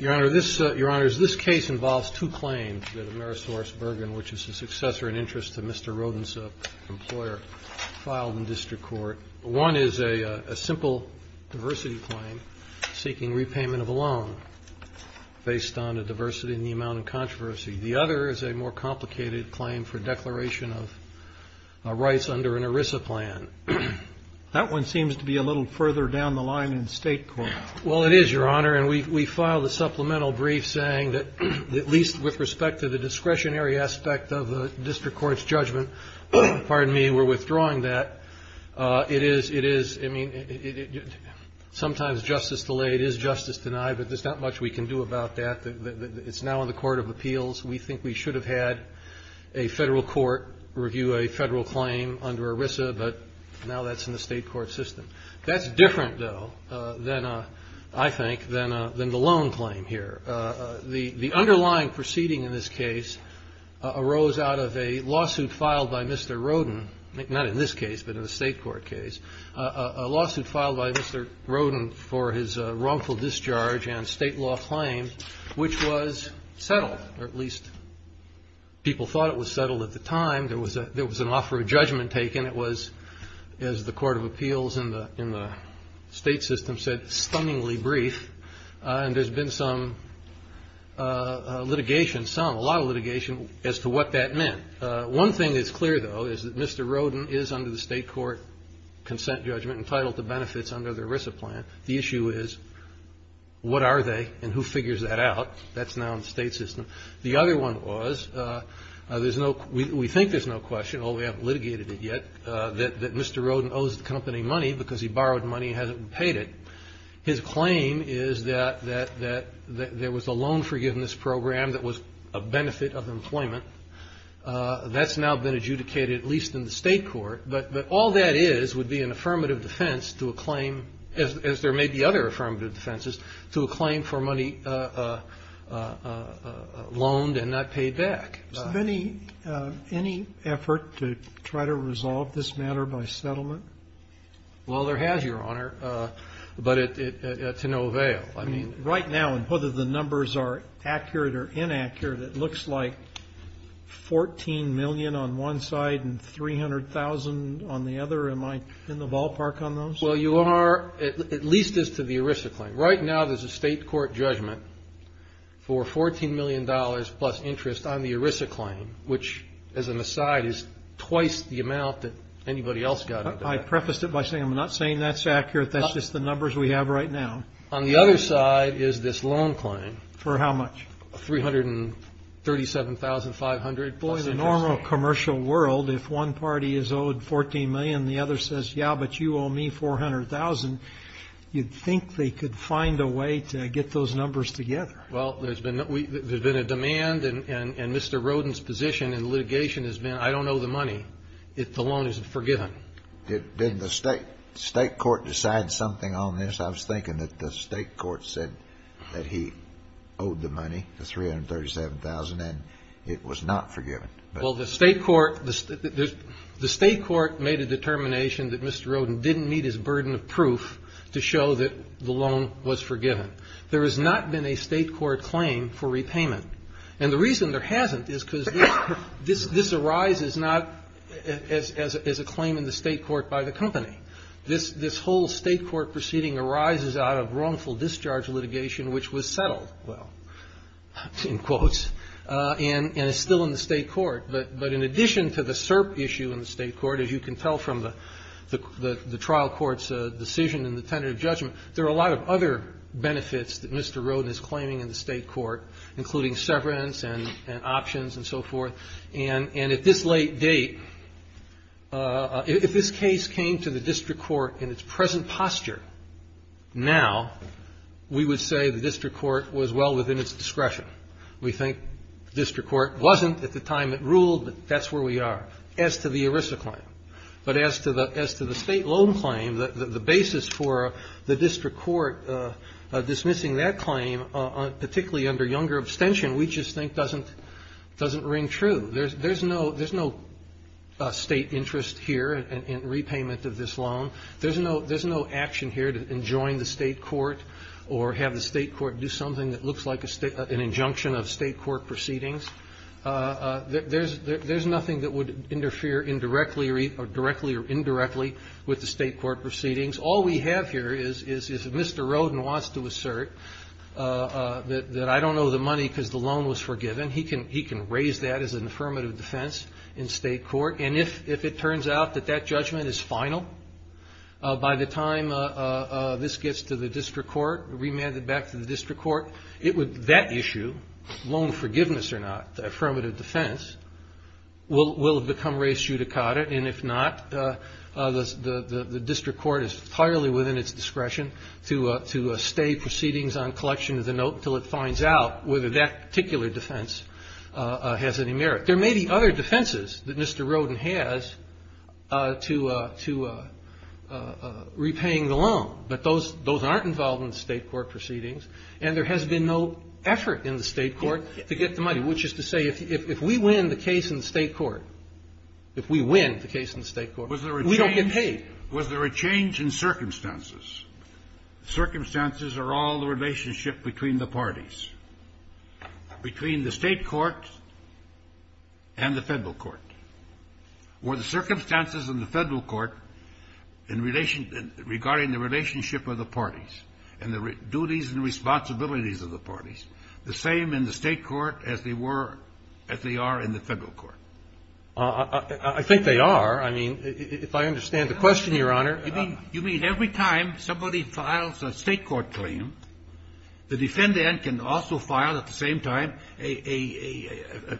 Your Honor, this case involves two claims that Amerisourcebergen, which is the successor in interest to Mr. Rodensa, the employer, filed in district court. One is a simple diversity claim seeking repayment of a loan based on a diversity in the amount of controversy. The other is a more complicated claim for declaration of rights under an ERISA plan. That one seems to be a little further down the line in state court. Well, it is, Your Honor, and we filed a supplemental brief saying that at least with respect to the discretionary aspect of the district court's judgment, pardon me, we're withdrawing that. It is – it is – I mean, sometimes justice delayed is justice denied, but there's not much we can do about that. It's now in the court of appeals. We think we should have had a federal court review a federal claim under ERISA, but now that's in the state court system. That's different, though, than – I think – than the loan claim here. The underlying proceeding in this case arose out of a lawsuit filed by Mr. Roden – not in this case, but in a state court case – a lawsuit filed by Mr. Roden for his wrongful discharge and state law claim, which was settled, or at least people thought it was settled at the time. There was a – there was an offer of judgment taken. It was, as the court of appeals in the – in the state system said, stunningly brief, and there's been some litigation – some, a lot of litigation as to what that meant. One thing that's clear, though, is that Mr. Roden is under the state court consent judgment entitled to benefits under the ERISA plan. The issue is what are they and who figures that out. That's now in the state system. The other one was there's no – we think there's no question, although we haven't litigated it yet, that Mr. Roden owes the company money because he borrowed money and hasn't paid it. His claim is that – that there was a loan forgiveness program that was a benefit of employment. That's now been adjudicated, at least in the state court. But all that is would be an affirmative defense to a claim, as there may be other affirmative defenses, to a claim for money loaned and not paid back. So any – any effort to try to resolve this matter by settlement? Well, there has, Your Honor. But it – to no avail. I mean – Right now, and whether the numbers are accurate or inaccurate, it looks like $14 million on one side and $300,000 on the other. Am I in the ballpark on those? Well, you are – at least as to the ERISA claim. Right now there's a state court judgment for $14 million plus interest on the ERISA claim, which, as an aside, is twice the amount that anybody else got into that. I prefaced it by saying I'm not saying that's accurate. That's just the numbers we have right now. On the other side is this loan claim. For how much? $337,500 plus interest. Well, in the normal commercial world, if one party is owed $14 million and the other says, yeah, but you owe me $400,000, you'd think they could find a way to get those numbers together. Well, there's been – there's been a demand, and Mr. Rodin's position in litigation has been, I don't owe the money if the loan isn't forgiven. Didn't the state court decide something on this? I was thinking that the state court said that he owed the money, the $337,000, and it was not forgiven. Well, the state court – the state court made a determination that Mr. Rodin didn't meet his burden of proof to show that the loan was forgiven. There has not been a state court claim for repayment. And the reason there hasn't is because this arises not as a claim in the state court by the company. This whole state court proceeding arises out of wrongful discharge litigation, which was settled, well, in quotes, and is still in the state court. But in addition to the SERP issue in the state court, as you can tell from the trial court's decision in the tentative judgment, there are a lot of other benefits that Mr. Rodin mentioned, such as severance and options and so forth. And at this late date, if this case came to the district court in its present posture now, we would say the district court was well within its discretion. We think the district court wasn't at the time it ruled, but that's where we are as to the ERISA claim. But as to the state loan claim, the basis for the district court dismissing that claim, particularly under younger abstention, we just think doesn't ring true. There's no state interest here in repayment of this loan. There's no action here to enjoin the state court or have the state court do something that looks like an injunction of state court proceedings. There's nothing that would interfere indirectly or directly or indirectly with the state court proceedings. All we have here is if Mr. Rodin wants to assert that I don't know the money because the loan was forgiven, he can raise that as an affirmative defense in state court. And if it turns out that that judgment is final by the time this gets to the district court, remanded back to the district court, that issue, loan forgiveness or not, affirmative defense, will have become res judicata. And if not, the district court is entirely within its discretion to stay proceedings on collection of the note until it finds out whether that particular defense has any merit. There may be other defenses that Mr. Rodin has to repaying the loan, but those aren't involved in the state court proceedings. And there has been no effort in the state court to get the money, which is to say if we win the case in the state court, if we win the case in the state court, we don't get paid. Was there a change in circumstances? Circumstances are all the relationship between the parties, between the state court and the Federal court. Were the circumstances in the Federal court regarding the relationship of the parties and the duties and responsibilities of the parties the same in the state court as they were, as they are in the Federal court? I think they are. I mean, if I understand the question, Your Honor. You mean every time somebody files a state court claim, the defendant can also file at the same time a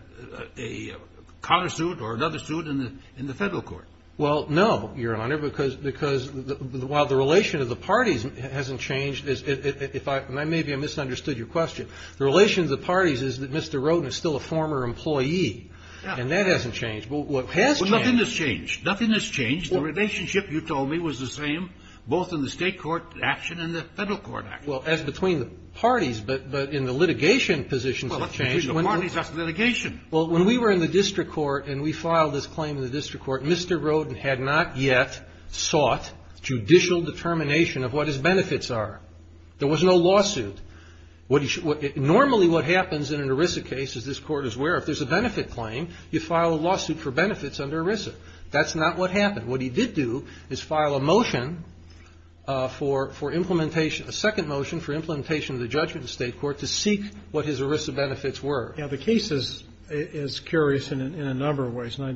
counter suit or another suit in the Federal court? Well, no, Your Honor, because while the relation of the parties hasn't changed, and maybe I misunderstood your question, the relation of the parties is that Mr. Roden is still a former employee. And that hasn't changed. What has changed. Well, nothing has changed. Nothing has changed. The relationship, you told me, was the same both in the state court action and the Federal court action. Well, as between the parties, but in the litigation positions have changed. Well, between the parties, that's litigation. Well, when we were in the district court and we filed this claim in the district court, Mr. Roden had not yet sought judicial determination of what his benefits are. There was no lawsuit. Normally what happens in an ERISA case, as this Court is aware, if there's a benefit claim, you file a lawsuit for benefits under ERISA. That's not what happened. What he did do is file a motion for implementation, a second motion for implementation of the judgment of the state court to seek what his ERISA benefits were. Now, the case is curious in a number of ways. And I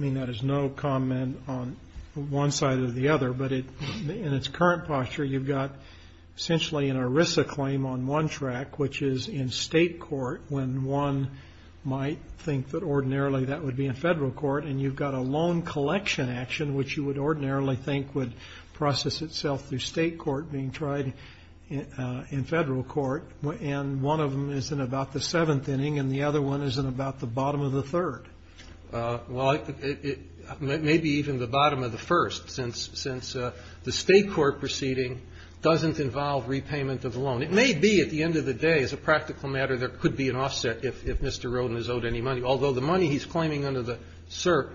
mean that as no comment on one side or the other. But in its current posture, you've got essentially an ERISA claim on one track, which is in state court, when one might think that ordinarily that would be in Federal court. And you've got a loan collection action, which you would ordinarily think would process itself through state court being tried in Federal court. And one of them is in about the seventh inning, and the other one is in about the bottom of the third. Well, it may be even the bottom of the first, since the state court proceeding doesn't involve repayment of the loan. It may be at the end of the day, as a practical matter, there could be an offset if Mr. Roden is owed any money, although the money he's claiming under the SERP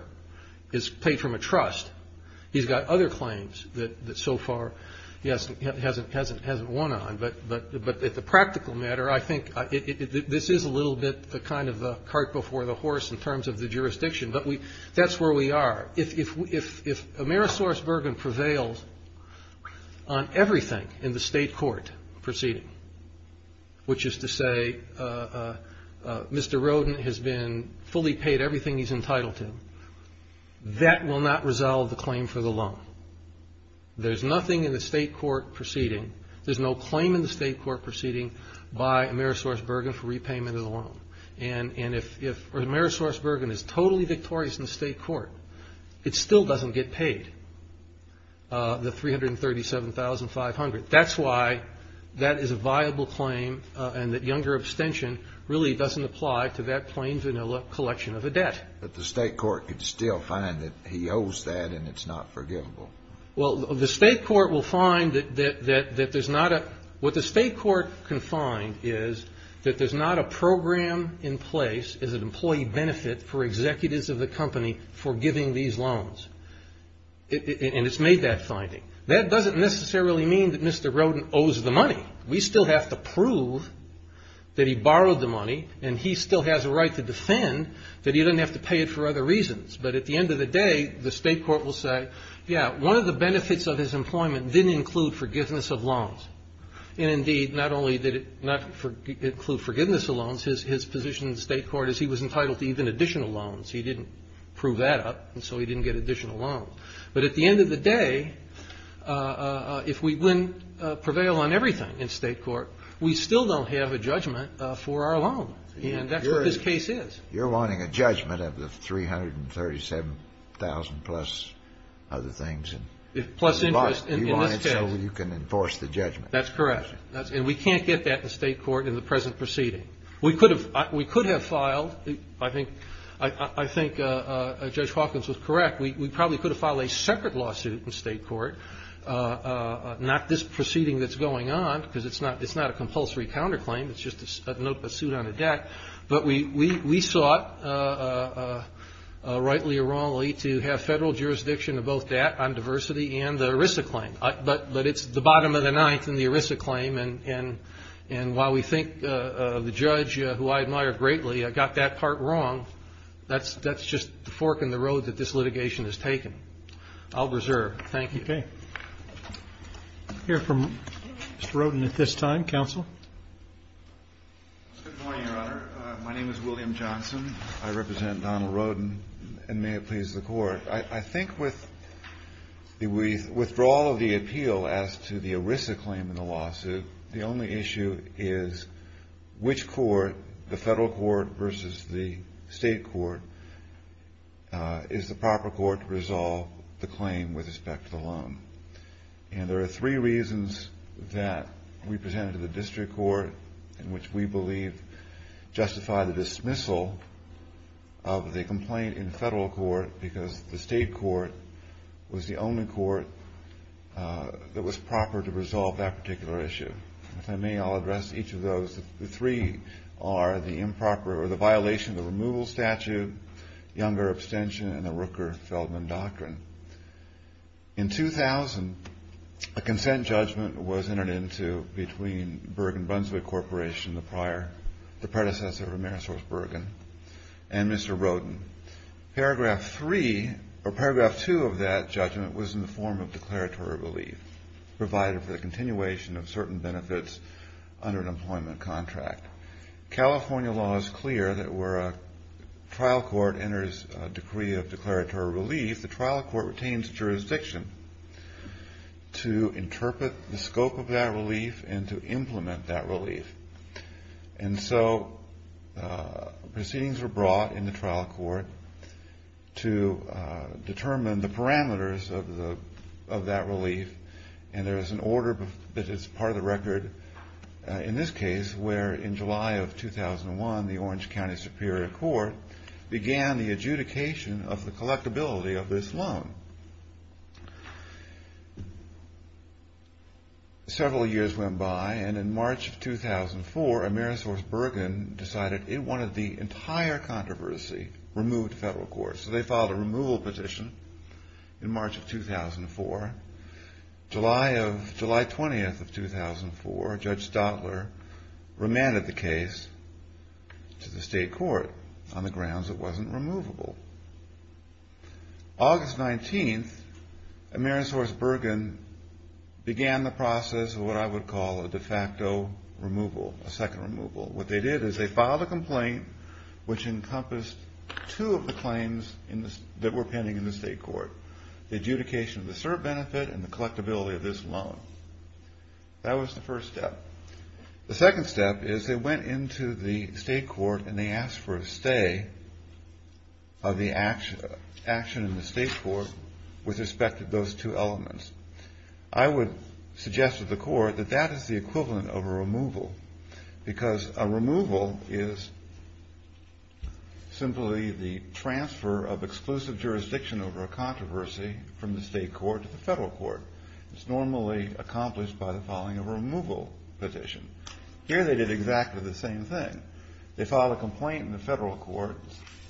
is paid from a trust. He's got other claims that so far he hasn't won on. But as a practical matter, I think this is a little bit kind of a cart before the horse in terms of the jurisdiction. But that's where we are. If Amerisaurus Bergen prevails on everything in the state court proceeding, which is to say Mr. Roden has been fully paid everything he's entitled to, that will not resolve the claim for the loan. There's nothing in the state court proceeding. There's no claim in the state court proceeding by Amerisaurus Bergen for repayment of the loan. And if Amerisaurus Bergen is totally victorious in the state court, it still doesn't get paid, the $337,500. That's why that is a viable claim and that younger abstention really doesn't apply to that plain vanilla collection of a debt. But the state court could still find that he owes that and it's not forgivable. Well, the state court will find that there's not a – what the state court can find is that there's not a program in place as an employee benefit for executives of the company for giving these loans. And it's made that finding. That doesn't necessarily mean that Mr. Roden owes the money. We still have to prove that he borrowed the money and he still has a right to defend that he doesn't have to pay it for other reasons. But at the end of the day, the state court will say, yeah, one of the benefits of his employment didn't include forgiveness of loans. And, indeed, not only did it not include forgiveness of loans, his position in the state court is he was entitled to even additional loans. He didn't prove that up, and so he didn't get additional loans. But at the end of the day, if we prevail on everything in state court, we still don't have a judgment for our loan. And that's what this case is. You're wanting a judgment of the 337,000-plus other things. Plus interest in this case. You want it so you can enforce the judgment. That's correct. And we can't get that in state court in the present proceeding. We could have filed – I think Judge Hawkins was correct. We probably could have filed a separate lawsuit in state court, not this proceeding that's going on, because it's not a compulsory counterclaim. It's just a suit on a deck. But we sought, rightly or wrongly, to have federal jurisdiction of both that on diversity and the ERISA claim. But it's the bottom of the ninth in the ERISA claim, and while we think the judge, who I admire greatly, got that part wrong, that's just the fork in the road that this litigation has taken. I'll reserve. Thank you. Okay. We'll hear from Mr. Rodin at this time. Counsel? Good morning, Your Honor. My name is William Johnson. I represent Donald Rodin, and may it please the Court. I think with the withdrawal of the appeal as to the ERISA claim in the lawsuit, the only issue is which court, the federal court versus the state court, is the proper court to resolve the claim with respect to the loan. And there are three reasons that we presented to the district court in which we believe justify the dismissal of the complaint in federal court because the state court was the only court that was proper to resolve that particular issue. If I may, I'll address each of those. The three are the improper or the violation of the removal statute, younger abstention, and the Rooker-Feldman doctrine. In 2000, a consent judgment was entered into between Bergen-Brunswick Corporation, the predecessor of Amerisource Bergen, and Mr. Rodin. Paragraph three or paragraph two of that judgment was in the form of declaratory relief provided for the continuation of certain benefits under an employment contract. California law is clear that where a trial court enters a decree of declaratory relief, the trial court retains jurisdiction to interpret the scope of that relief and to implement that relief. And so proceedings were brought in the trial court to determine the parameters of that relief, and there is an order that is part of the record in this case where in July of 2001, the Orange County Superior Court began the adjudication of the selectability of this loan. Several years went by, and in March of 2004, Amerisource Bergen decided it wanted the entire controversy removed to federal court. So they filed a removal petition in March of 2004. July 20th of 2004, Judge Stadler remanded the case to the state court on the same day. August 19th, Amerisource Bergen began the process of what I would call a de facto removal, a second removal. What they did is they filed a complaint which encompassed two of the claims that were pending in the state court, the adjudication of the cert benefit and the collectability of this loan. That was the first step. The second step is they went into the state court and they asked for a stay of the action in the state court with respect to those two elements. I would suggest to the court that that is the equivalent of a removal because a removal is simply the transfer of exclusive jurisdiction over a controversy from the state court to the federal court. It's normally accomplished by filing a removal petition. Here they did exactly the same thing. They filed a complaint in the federal court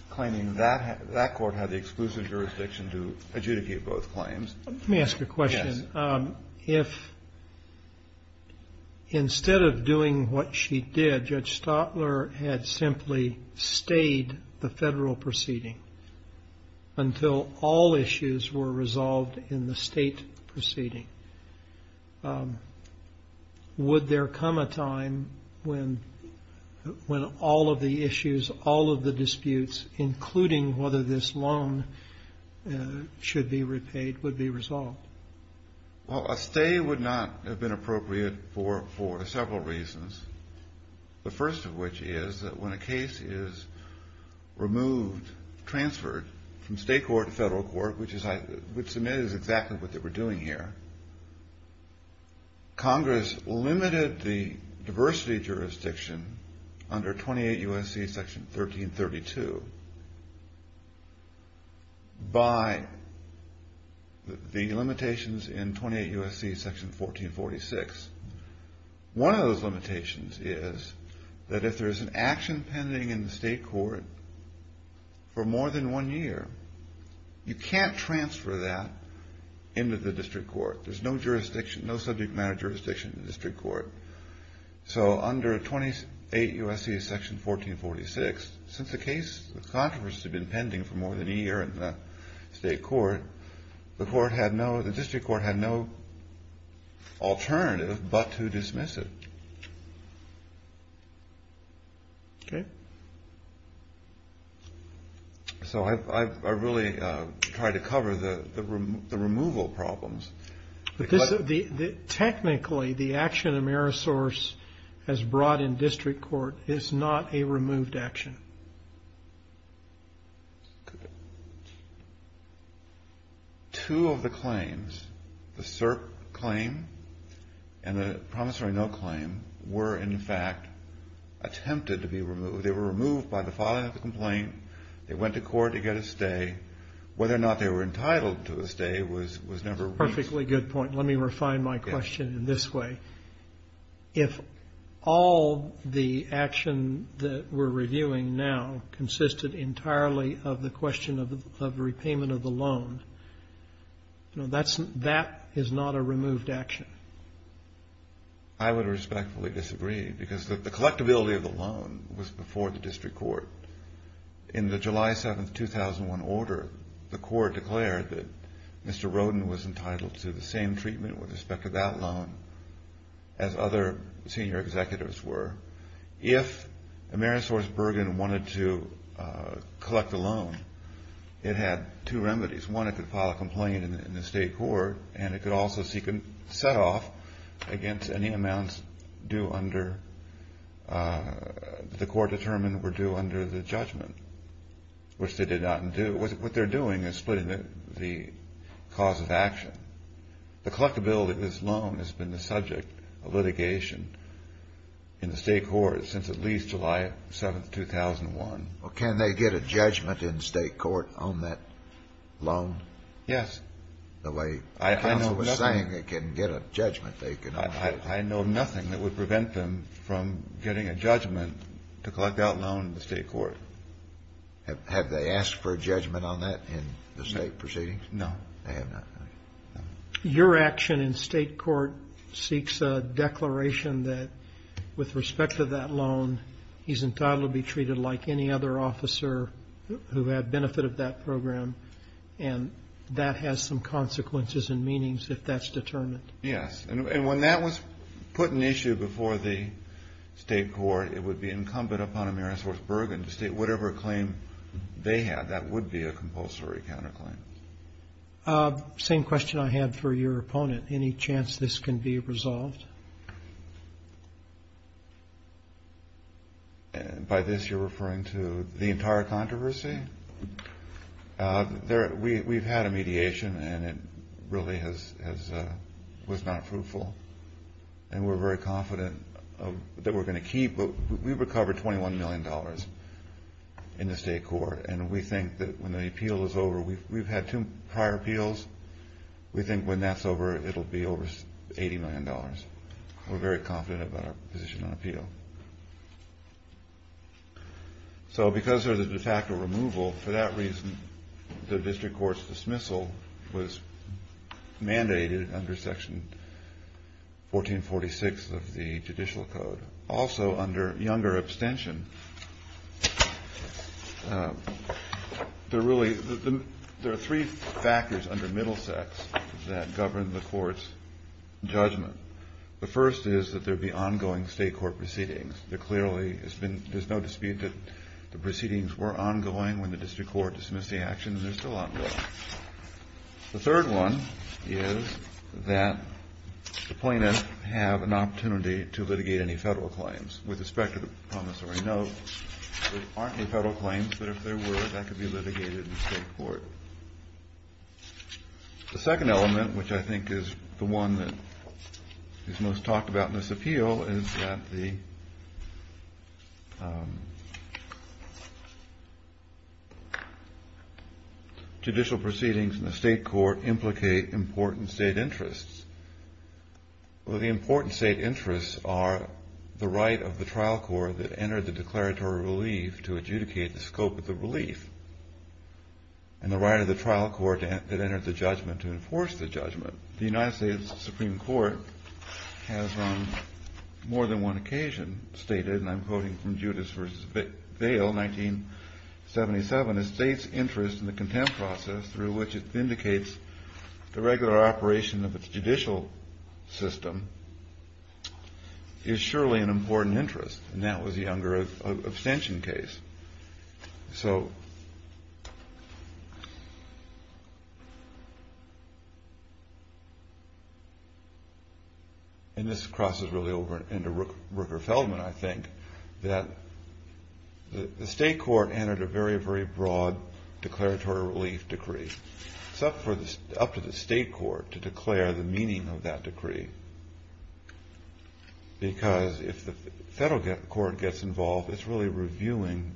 claiming that court had the exclusive jurisdiction to adjudicate both claims. Let me ask you a question. Yes. If instead of doing what she did, Judge Stadler had simply stayed the federal proceeding until all issues were resolved in the state proceeding, would there come a time when all of the issues, all of the disputes including whether this loan should be repaid would be resolved? A stay would not have been appropriate for several reasons. The first of which is that when a case is removed, transferred from state court to federal court, which I would submit is exactly what they were doing here, Congress limited the diversity jurisdiction under 28 U.S.C. Section 1332 by the limitations in 28 U.S.C. Section 1446. One of those limitations is that if there is an action pending in the state court for more than one year, you can't transfer that into the district court. There's no jurisdiction, no subject matter jurisdiction in the district court. So under 28 U.S.C. Section 1446, since the case of controversy had been pending for more than a year in the state court, the court had no, the district court had no alternative but to dismiss it. Okay. So I really tried to cover the removal problems. Technically, the action Amerisource has brought in district court is not a removed action. Two of the claims, the CERP claim and the promissory note claim were in fact attempted to be removed. They were removed by the filing of the complaint. They went to court to get a stay. Whether or not they were entitled to a stay was never released. Perfectly good point. Let me refine my question in this way. If all the action that we're reviewing now consisted entirely of the question of repayment of the loan, that is not a removed action. I would respectfully disagree because the collectability of the loan was before the district court. In the July 7, 2001 order, the court declared that Mr. Roden was entitled to the same treatment with respect to that loan as other senior executives were. If Amerisource Bergen wanted to collect the loan, it had two remedies. One, it could file a complaint in the state court and it could also seek a set-off against any amounts due under the court determined were due under the judgment, which they did not do. What they're doing is splitting the cause of action. The collectability of this loan has been the subject of litigation in the state court since at least July 7, 2001. Well, can they get a judgment in state court on that loan? Yes. The way the counsel was saying they can get a judgment. I know nothing that would prevent them from getting a judgment to collect that loan in the state court. Have they asked for a judgment on that in the state proceedings? No. They have not. Your action in state court seeks a declaration that with respect to that loan, he's entitled to be treated like any other officer who had benefit of that program, and that has some consequences and meanings if that's determined. Yes. And when that was put in issue before the state court, it would be incumbent upon Amerisource Bergen to state whatever claim they had. That would be a compulsory counterclaim. Same question I had for your opponent. Any chance this can be resolved? By this you're referring to the entire controversy? We've had a mediation, and it really was not fruitful, and we're very confident that we're going to keep. We recovered $21 million in the state court, and we think that when the appeal is over, we've had two prior appeals. We think when that's over, it'll be over $80 million. We're very confident about our position on appeal. So because of the de facto removal, for that reason, the district court's dismissal was mandated under Section 1446 of the Judicial Code. Also under younger abstention, there are three factors under Middlesex that govern the court's judgment. The first is that there be ongoing state court proceedings. There clearly has been no dispute that the proceedings were ongoing when the district court dismissed the action, and they're still ongoing. The third one is that the plaintiff have an opportunity to litigate any federal claims. With respect to the promissory note, there aren't any federal claims, but if there were, that could be litigated in state court. The second element, which I think is the one that is most talked about in this appeal, is that the judicial proceedings in the state court implicate important state interests. Well, the important state interests are the right of the trial court that entered the declaratory relief to adjudicate the scope of the relief and the right of the trial court that entered the judgment to enforce the judgment. The United States Supreme Court has on more than one occasion stated, and I'm quoting from Judas v. Bail, 1977, that states' interest in the contempt process through which it vindicates the regular operation of its judicial system is surely an important interest, and that was the younger abstention case. So, and this crosses really over into Rooker-Feldman, I think, that the state court entered a very, very broad declaratory relief decree. It's up to the state court to declare the meaning of that decree, because if the federal court gets involved, it's really reviewing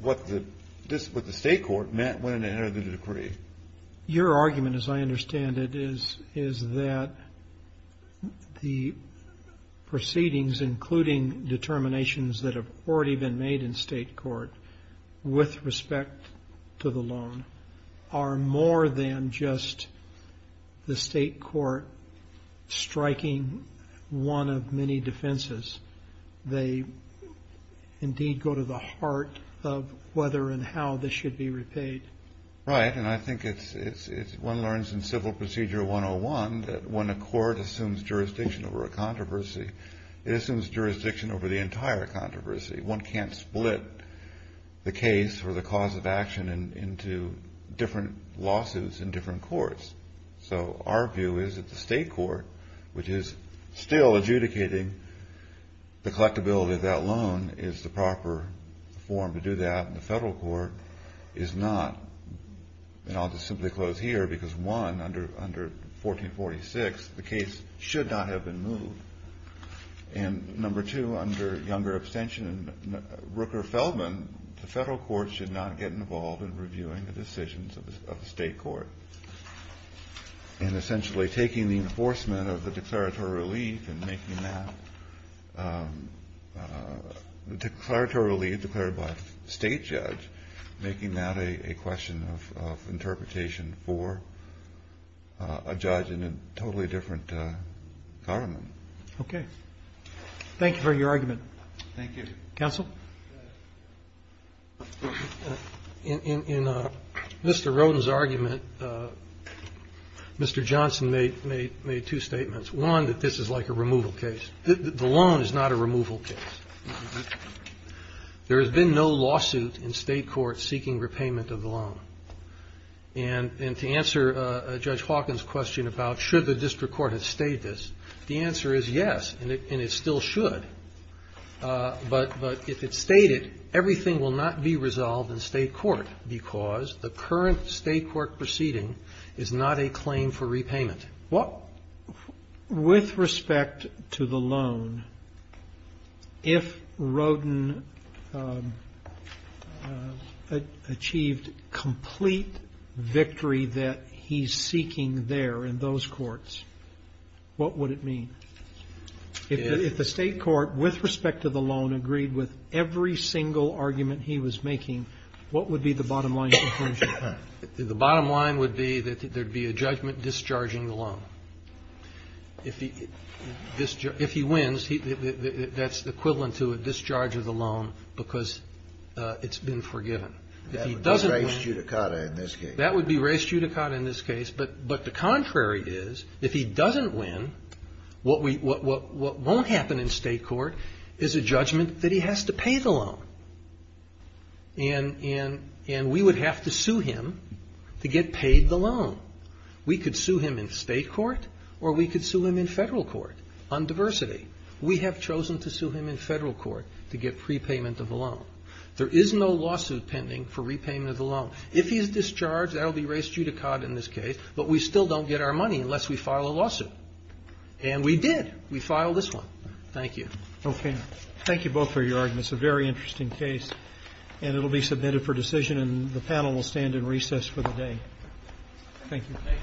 what the state court meant when it entered the decree. Your argument, as I understand it, is that the proceedings, including determinations that have already been made in state court with respect to the loan, are more than just the state court striking one of many defenses. They indeed go to the heart of whether and how this should be repaid. Right, and I think it's one learns in Civil Procedure 101 that when a court assumes jurisdiction over a controversy, it assumes jurisdiction over the entire controversy. One can't split the case or the cause of action into different lawsuits in different courts. So our view is that the state court, which is still adjudicating the collectability of that loan is the proper form to do that, and the federal court is not. And I'll just simply close here, because one, under 1446, the case should not have been moved. And number two, under younger abstention, Rooker-Feldman, the federal court should not get involved in reviewing the decisions of the state court. And essentially taking the enforcement of the declaratory relief and making that, the declaratory relief declared by a state judge, making that a question of interpretation for a judge in a totally different government. Okay. Thank you for your argument. Thank you. Counsel? In Mr. Roden's argument, Mr. Johnson made two statements. One, that this is like a removal case. The loan is not a removal case. There has been no lawsuit in state court seeking repayment of the loan. And to answer Judge Hawkins' question about should the district court have stated this, the answer is yes, and it still should. But if it's stated, everything will not be resolved in state court because the current state court proceeding is not a claim for repayment. What, with respect to the loan, if Roden achieved complete victory that he's seeking there in those courts, what would it mean? If the state court, with respect to the loan, agreed with every single argument he was making, what would be the bottom line conclusion? The bottom line would be that there would be a judgment discharging the loan. If he wins, that's equivalent to a discharge of the loan because it's been forgiven. That would be res judicata in this case. That would be res judicata in this case. But the contrary is, if he doesn't win, what won't happen in state court is a judgment that he has to pay the loan. And we would have to sue him to get paid the loan. We could sue him in state court or we could sue him in Federal court on diversity. We have chosen to sue him in Federal court to get prepayment of the loan. There is no lawsuit pending for repayment of the loan. If he is discharged, that will be res judicata in this case, but we still don't get our money unless we file a lawsuit. And we did. We filed this one. Thank you. Okay. Thank you both for your arguments. A very interesting case. And it will be submitted for decision and the panel will stand in recess for the day. Thank you. Thank you. Thank you. Thank you.